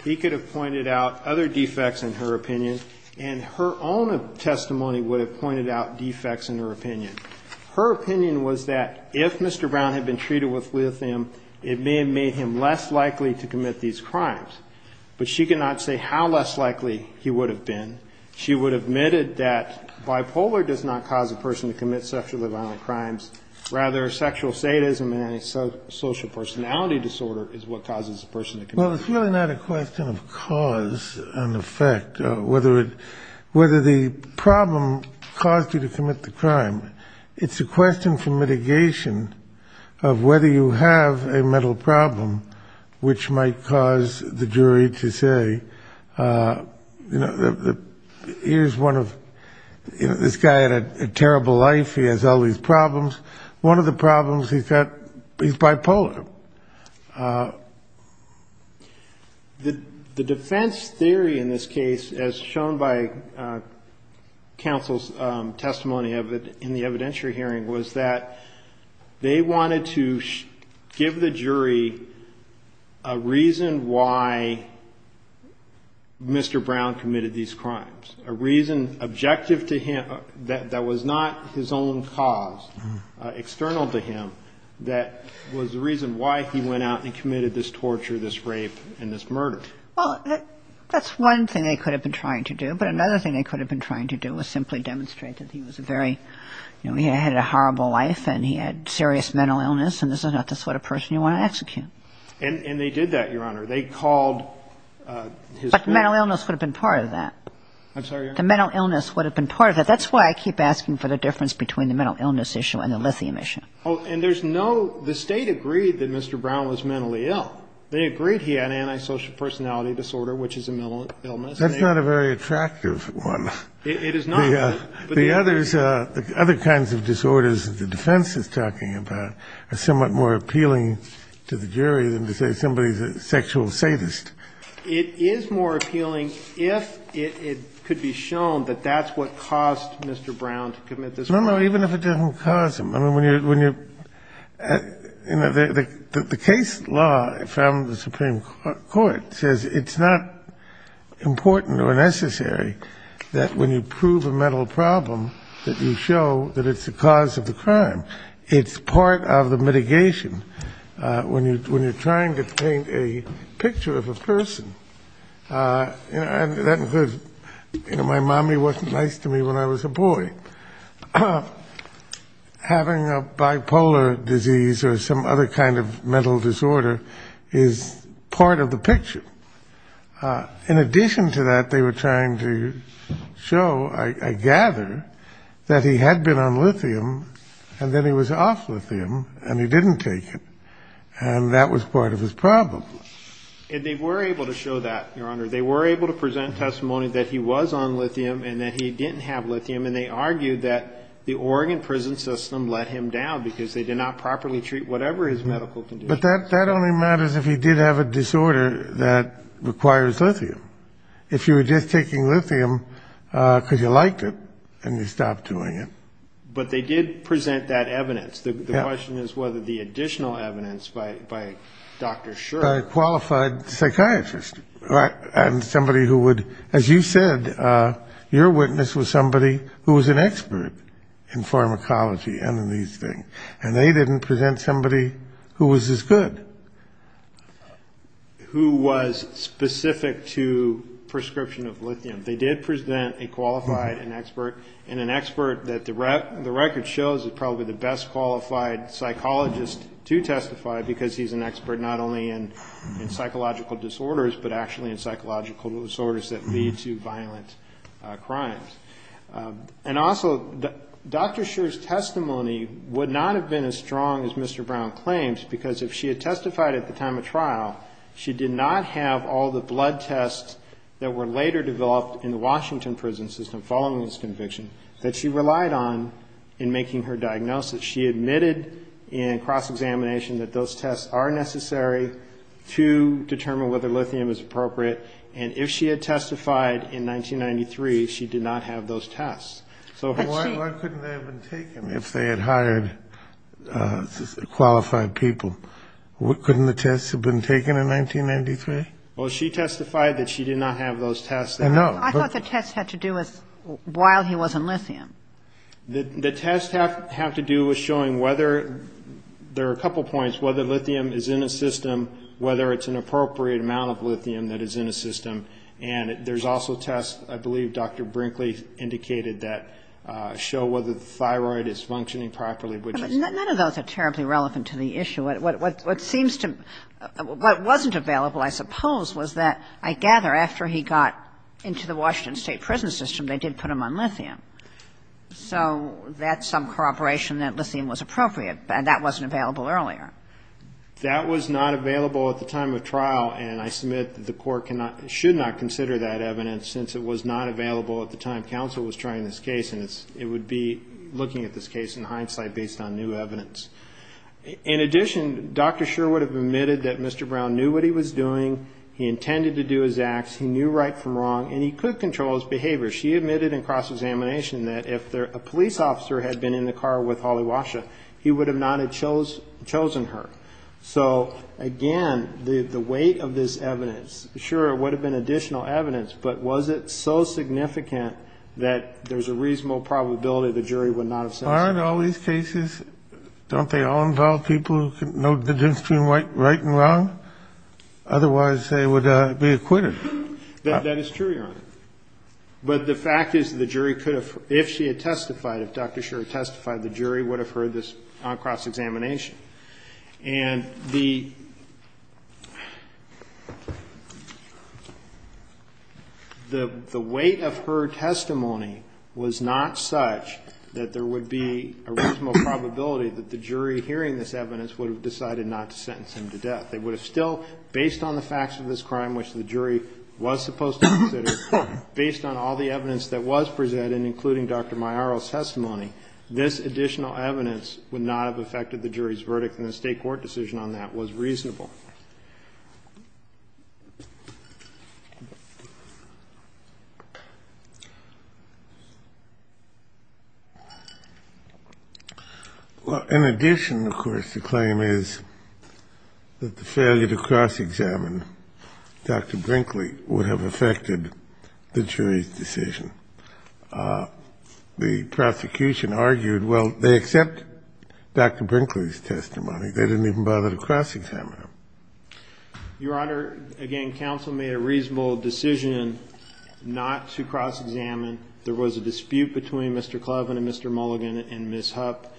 He could have pointed out other defects in her opinion, and her own testimony would have pointed out defects in her opinion. Her opinion was that if Mr. Brown had been treated with lithium, it may have made him less likely to commit these crimes. But she could not say how less likely he would have been. She would have admitted that bipolar does not cause a person to commit sexually violent crimes, rather sexual sadism and a social personality disorder is what causes a person to commit them. Well, it's really not a question of cause and effect, whether the problem caused you to commit the crime. It's a question for mitigation of whether you have a mental problem, which might cause the jury to say, you know, here's one of, you know, this guy had a terrible life, he has all these problems. One of the problems he's got, he's bipolar. The defense theory in this case, as shown by counsel's testimony in the evidentiary evidence, is that the defense theory in the evidentiary hearing was that they wanted to give the jury a reason why Mr. Brown committed these crimes, a reason objective to him that was not his own cause, external to him, that was the reason why he went out and committed this torture, this rape, and this murder. Well, that's one thing they could have been trying to do. But another thing they could have been trying to do was simply demonstrate that he was a very, you know, he had a horrible life and he had serious mental illness and this is not the sort of person you want to execute. And they did that, Your Honor. They called his family. But mental illness would have been part of that. I'm sorry, Your Honor? The mental illness would have been part of it. That's why I keep asking for the difference between the mental illness issue and the lithium issue. Oh, and there's no – the State agreed that Mr. Brown was mentally ill. They agreed he had antisocial personality disorder, which is a mental illness. That's not a very attractive one. It is not. The other kinds of disorders that the defense is talking about are somewhat more appealing to the jury than to say somebody is a sexual sadist. It is more appealing if it could be shown that that's what caused Mr. Brown to commit this crime. No, no, even if it didn't cause him. I mean, when you're – you know, the case law from the Supreme Court says it's not important or necessary that when you prove a mental problem that you show that it's the cause of the crime. It's part of the mitigation when you're trying to paint a picture of a person. And that includes, you know, my mommy wasn't nice to me when I was a boy. Having a bipolar disease or some other kind of mental disorder is part of the picture. In addition to that, they were trying to show, I gather, that he had been on lithium and then he was off lithium and he didn't take it. And that was part of his problem. And they were able to show that, Your Honor. They were able to present testimony that he was on lithium and that he didn't have lithium. And they argued that the Oregon prison system let him down because they did not properly treat whatever his medical condition was. But that only matters if he did have a disorder that requires lithium. If you were just taking lithium because you liked it and you stopped doing it. But they did present that evidence. The question is whether the additional evidence by Dr. Shurer. Qualified psychiatrist. And somebody who would, as you said, your witness was somebody who was an expert in pharmacology and in these things. And they didn't present somebody who was as good. Who was specific to prescription of lithium. They did present a qualified expert. And an expert that the record shows is probably the best qualified psychologist to testify because he's an expert not only in psychological disorders, but actually in psychological disorders that lead to violent crimes. And also, Dr. Shurer's testimony would not have been as strong as Mr. Brown claims, because if she had testified at the time of trial, she did not have all the blood tests that were later developed in the Washington prison system following this conviction that she relied on in making her diagnosis. She admitted in cross-examination that those tests are necessary to determine whether lithium is appropriate. And if she had testified in 1993, she did not have those tests. So why couldn't they have been taken if they had hired qualified people? Couldn't the tests have been taken in 1993? Well, she testified that she did not have those tests. I thought the tests had to do with while he was in lithium. The tests have to do with showing whether there are a couple points, whether lithium is in a system, whether it's an appropriate amount of lithium that is in a system. And there's also tests, I believe Dr. Brinkley indicated, that show whether the thyroid is functioning properly, which is true. But none of those are terribly relevant to the issue. What seems to be, what wasn't available, I suppose, was that, I gather, after he got into the Washington state prison system, they did put him on lithium. So that's some corroboration that lithium was appropriate. And that wasn't available earlier. That was not available at the time of trial. And I submit that the Court should not consider that evidence, since it was not available at the time counsel was trying this case. And it would be looking at this case in hindsight based on new evidence. In addition, Dr. Scher would have admitted that Mr. Brown knew what he was doing. He intended to do his acts. He knew right from wrong. And he could control his behavior. She admitted in cross-examination that if a police officer had been in the car with Holly Washa, he would have not have chosen her. So, again, the weight of this evidence, sure, it would have been additional evidence. But was it so significant that there's a reasonable probability the jury would not have said so? Aren't all these cases, don't they all involve people who know the difference between right and wrong? Otherwise, they would be acquitted. That is true, Your Honor. But the fact is the jury could have, if she had testified, if Dr. Scher had testified, the jury would have heard this on cross-examination. And the weight of her testimony was not such that there would be a reasonable probability that the jury hearing this evidence would have decided not to sentence him to death. It would have still, based on the facts of this crime, which the jury was supposed to consider, based on all the evidence that was presented, including Dr. Maiaro's testimony, this additional evidence would not have affected the jury's verdict, and the State court decision on that was reasonable. In addition, of course, the claim is that the failure to cross-examine Dr. Brinkley would have affected the jury's decision. The prosecution argued, well, they accept Dr. Brinkley's testimony. They didn't even bother to cross-examine him. Your Honor, again, counsel made a reasonable decision not to cross-examine. There was a dispute between Mr. Kloven and Mr. Mulligan and Ms. Hupp.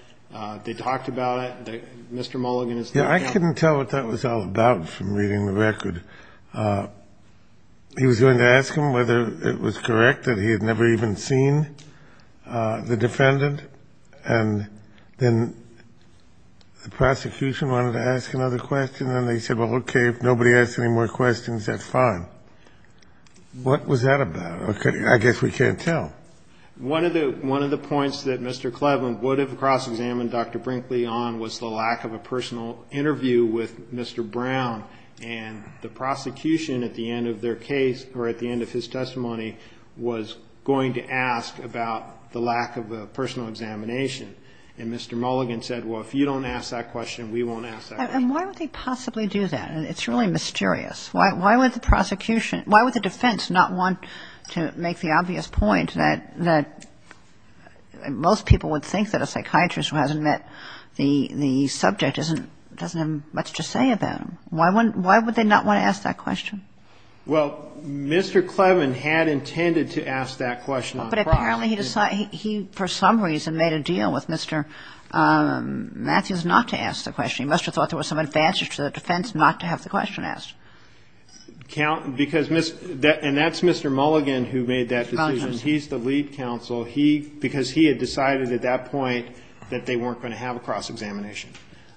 They talked about it. Mr. Mulligan is the judge. Yeah, I couldn't tell what that was all about from reading the record. He was going to ask him whether it was correct that he had never even seen the defendant, and then the prosecution wanted to ask another question, and they said, well, okay, if nobody asks any more questions, that's fine. What was that about? I guess we can't tell. One of the points that Mr. Kloven would have cross-examined Dr. Brinkley on was the lack of a personal interview with Mr. Brown, and the prosecution at the end of their And Mr. Mulligan said, well, if you don't ask that question, we won't ask that question. And why would they possibly do that? It's really mysterious. Why would the prosecution, why would the defense not want to make the obvious point that most people would think that a psychiatrist who hasn't met the subject doesn't have much to say about him? Why would they not want to ask that question? Well, Mr. Kloven had intended to ask that question on cross. But apparently he decided he, for some reason, made a deal with Mr. Matthews not to ask the question. He must have thought there was some advantage to the defense not to have the question asked. And that's Mr. Mulligan who made that decision. He's the lead counsel. Because he had decided at that point that they weren't going to have a cross-examination.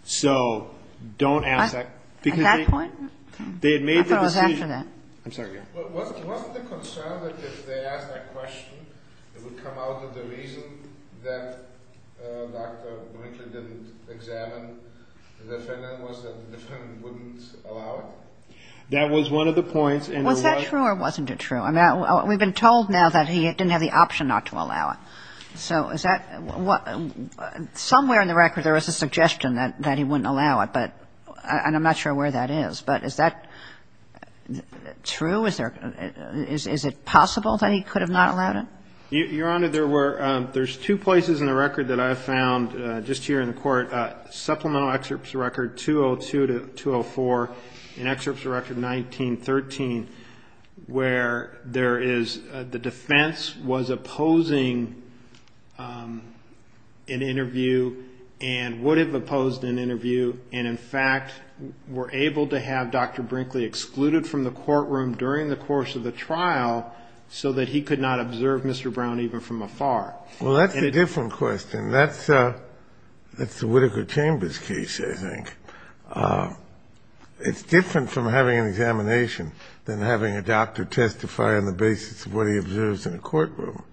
So don't ask that. At that point? I thought it was after that. I'm sorry. Wasn't the concern that if they asked that question, it would come out that the reason that Dr. Brinkley didn't examine the defendant was that the defendant wouldn't allow it? That was one of the points. Was that true or wasn't it true? I mean, we've been told now that he didn't have the option not to allow it. So is that what — somewhere in the record there was a suggestion that he wouldn't allow it. And I'm not sure where that is. But is that true? Is it possible that he could have not allowed it? Your Honor, there's two places in the record that I've found just here in the court. Supplemental excerpts record 202 to 204 and excerpts record 1913 where there is the defense was opposing an interview and would have opposed an interview. And, in fact, were able to have Dr. Brinkley excluded from the courtroom during the course of the trial so that he could not observe Mr. Brown even from afar. Well, that's a different question. That's the Whitaker Chambers case, I think. It's different from having an examination than having a doctor testify on the basis of what he observes in a courtroom.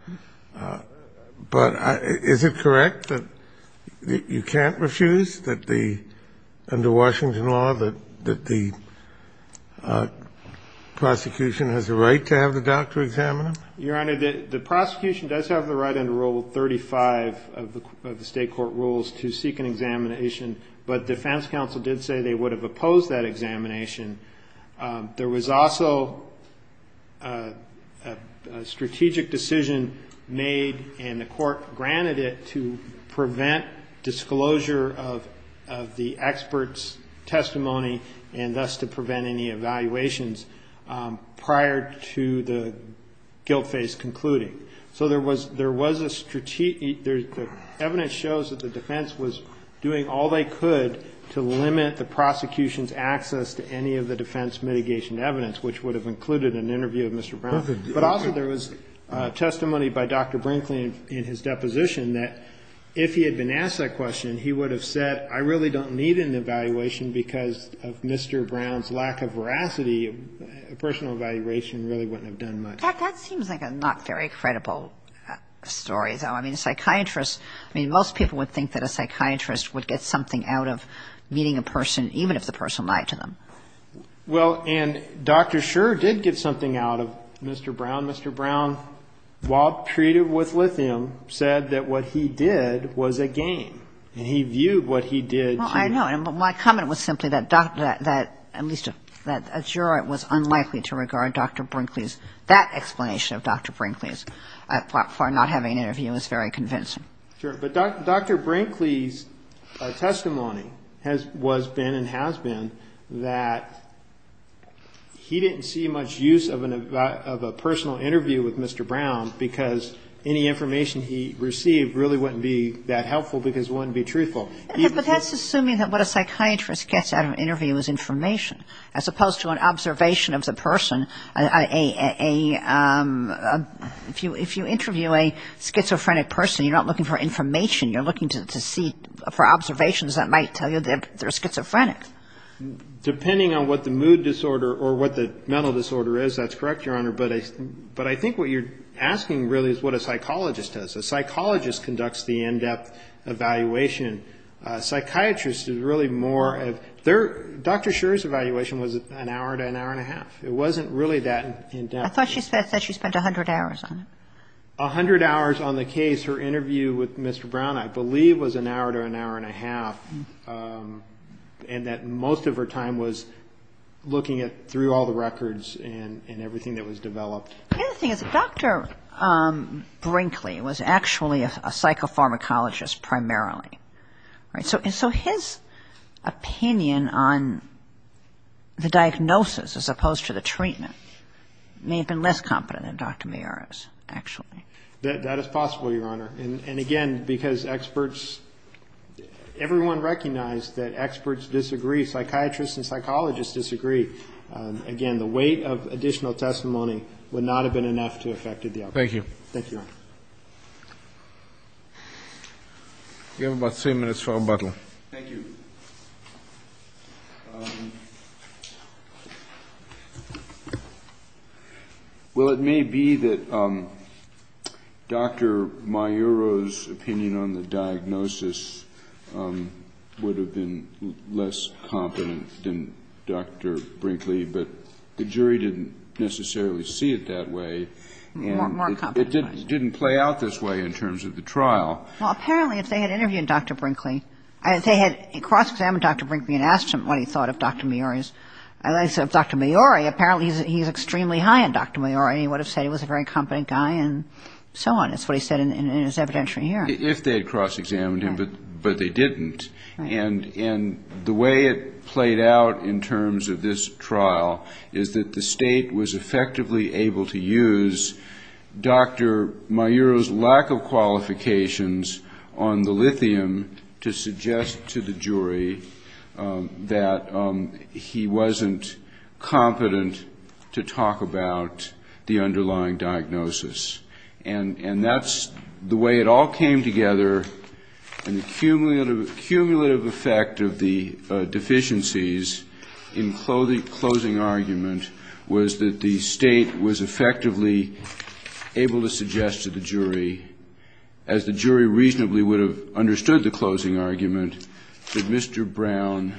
But is it correct that you can't refuse under Washington law that the prosecution has a right to have the doctor examine him? Your Honor, the prosecution does have the right under Rule 35 of the state court rules to seek an examination, but defense counsel did say they would have opposed that examination. There was also a strategic decision made, and the court granted it to prevent disclosure of the expert's testimony and thus to prevent any evaluations prior to the guilt phase concluding. So there was a strategic – the evidence shows that the defense was doing all they could to limit the prosecution's access to any of the defense mitigation evidence, which would have included an interview of Mr. Brown. But also there was testimony by Dr. Brinkley in his deposition that if he had been asked that question, he would have said I really don't need an evaluation because of Mr. Brown's lack of veracity. A personal evaluation really wouldn't have done much. In fact, that seems like a not very credible story, though. I mean, a psychiatrist – I mean, most people would think that a psychiatrist would get something out of meeting a person, even if the person lied to them. Well, and Dr. Shurer did get something out of Mr. Brown. Mr. Brown, while treated with lithium, said that what he did was a game. And he viewed what he did to – Well, I know. And my comment was simply that Dr. – that at least – that Shurer was unlikely to regard Dr. Brinkley's – that explanation of Dr. Brinkley's for not having an interview as very convincing. Sure. But Dr. Brinkley's testimony has – was been and has been that he didn't see much use of an – of a personal interview with Mr. Brown because any information he received really wouldn't be that helpful because it wouldn't be truthful. But that's assuming that what a psychiatrist gets out of an interview is information, as opposed to an observation of the person. A – if you interview a schizophrenic person, you're not looking for information. You're looking to see – for observations that might tell you they're schizophrenic. Depending on what the mood disorder or what the mental disorder is, that's correct, Your Honor. But I think what you're asking really is what a psychologist does. A psychologist conducts the in-depth evaluation. A psychiatrist is really more of their – Dr. Shurer's evaluation was an hour to an hour and a half. It wasn't really that in-depth. I thought she said she spent 100 hours on it. A hundred hours on the case. Her interview with Mr. Brown, I believe, was an hour to an hour and a half, and that most of her time was looking at – through all the records and everything that was developed. The other thing is that Dr. Brinkley was actually a psychopharmacologist primarily, right? So his opinion on the diagnosis as opposed to the treatment may have been less competent than Dr. Mayero's, actually. That is possible, Your Honor. And, again, because experts – everyone recognized that experts disagree. Psychiatrists and psychologists disagree. Again, the weight of additional testimony would not have been enough to affect the outcome. Thank you. Thank you, Your Honor. You have about three minutes for rebuttal. Thank you. Well, it may be that Dr. Mayero's opinion on the diagnosis would have been less competent than Dr. Brinkley, but the jury didn't necessarily see it that way. More competent. It didn't play out this way in terms of the trial. Well, apparently if they had interviewed Dr. Brinkley, if they had cross-examined Dr. Brinkley, and asked him what he thought of Dr. Mayero's – I said, Dr. Mayero, apparently he's extremely high on Dr. Mayero. He would have said he was a very competent guy and so on. That's what he said in his evidentiary hearing. If they had cross-examined him, but they didn't. And the way it played out in terms of this trial is that the State was effectively able to use Dr. Mayero's lack of qualifications on the lithium to suggest to the jury that he wasn't competent to talk about the underlying diagnosis. And that's the way it all came together. And the cumulative effect of the deficiencies in closing argument was that the State was effectively able to suggest to the jury, as the jury reasonably would have understood the closing argument, that Mr. Brown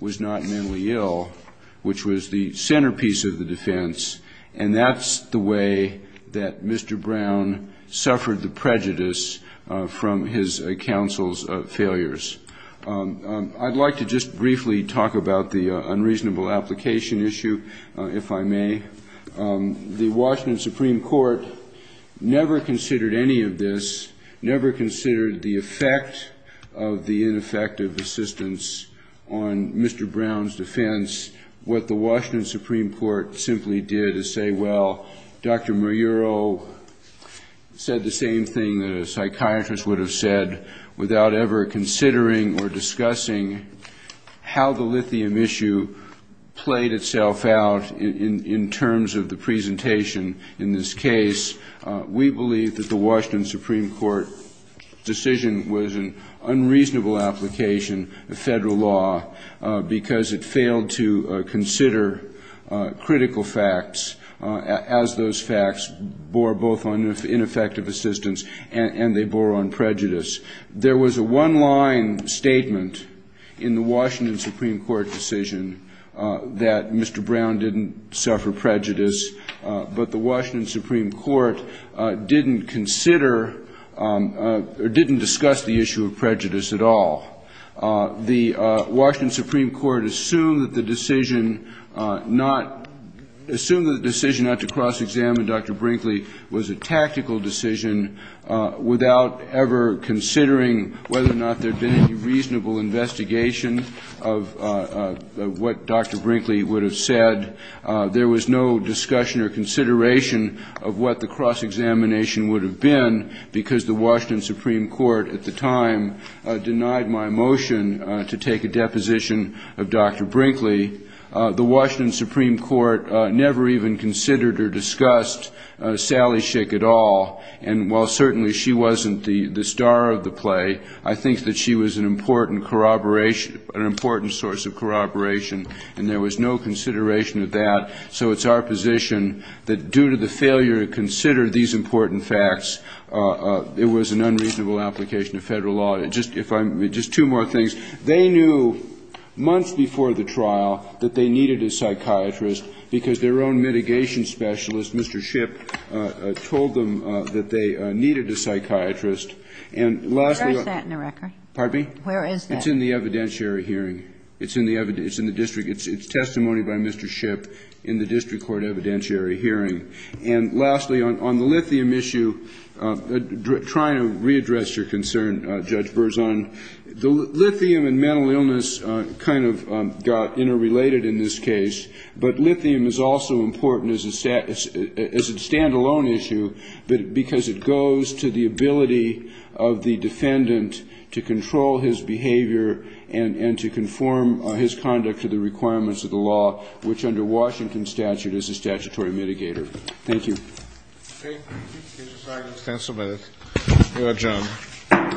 was not mentally ill, which was the centerpiece of the defense. And that's the way that Mr. Brown suffered the prejudice from his counsel's failures. I'd like to just briefly talk about the unreasonable application issue, if I may. The Washington Supreme Court never considered any of this, never considered the effect of the ineffective assistance on Mr. Brown's defense. What the Washington Supreme Court simply did is say, well, Dr. Mayero said the same thing that a psychiatrist would have said, without ever considering or discussing how the lithium issue played itself out in terms of the presentation in this case. We believe that the Washington Supreme Court decision was an unreasonable application of federal law because it failed to consider critical facts as those facts bore both on ineffective assistance and they bore on prejudice. There was a one-line statement in the Washington Supreme Court decision that Mr. Brown didn't suffer prejudice, but the Washington Supreme Court didn't consider or didn't discuss the issue of prejudice at all. The Washington Supreme Court assumed that the decision not to cross-examine Dr. Brinkley was a tactical decision, without ever considering whether or not there had been any reasonable investigation of what Dr. Brinkley would have said. There was no discussion or consideration of what the cross-examination would have been because the Washington Supreme Court at the time denied my motion to take a deposition of Dr. Brinkley. The Washington Supreme Court never even considered or discussed Sally Schick at all, and while certainly she wasn't the star of the play, I think that she was an important source of corroboration, and there was no consideration of that, so it's our position that due to the failure to consider these important facts, it was an unreasonable application of Federal law. Just two more things. They knew months before the trial that they needed a psychiatrist because their own mitigation specialist, Mr. Schipp, told them that they needed a psychiatrist. And lastly, on the record. Kagan. Where is that? It's in the evidentiary hearing. It's in the district. It's testimony by Mr. Schipp in the district court evidentiary hearing. And lastly, on the lithium issue, trying to readdress your concern, Judge Berzon, the lithium and mental illness kind of got interrelated in this case, but lithium is also important as a stand-alone issue because it goes to the ability of the defendant to control his behavior and to conform his conduct to the requirements of the law, which under Washington statute is a statutory mitigator. Thank you. Okay. Thank you. We'll adjourn.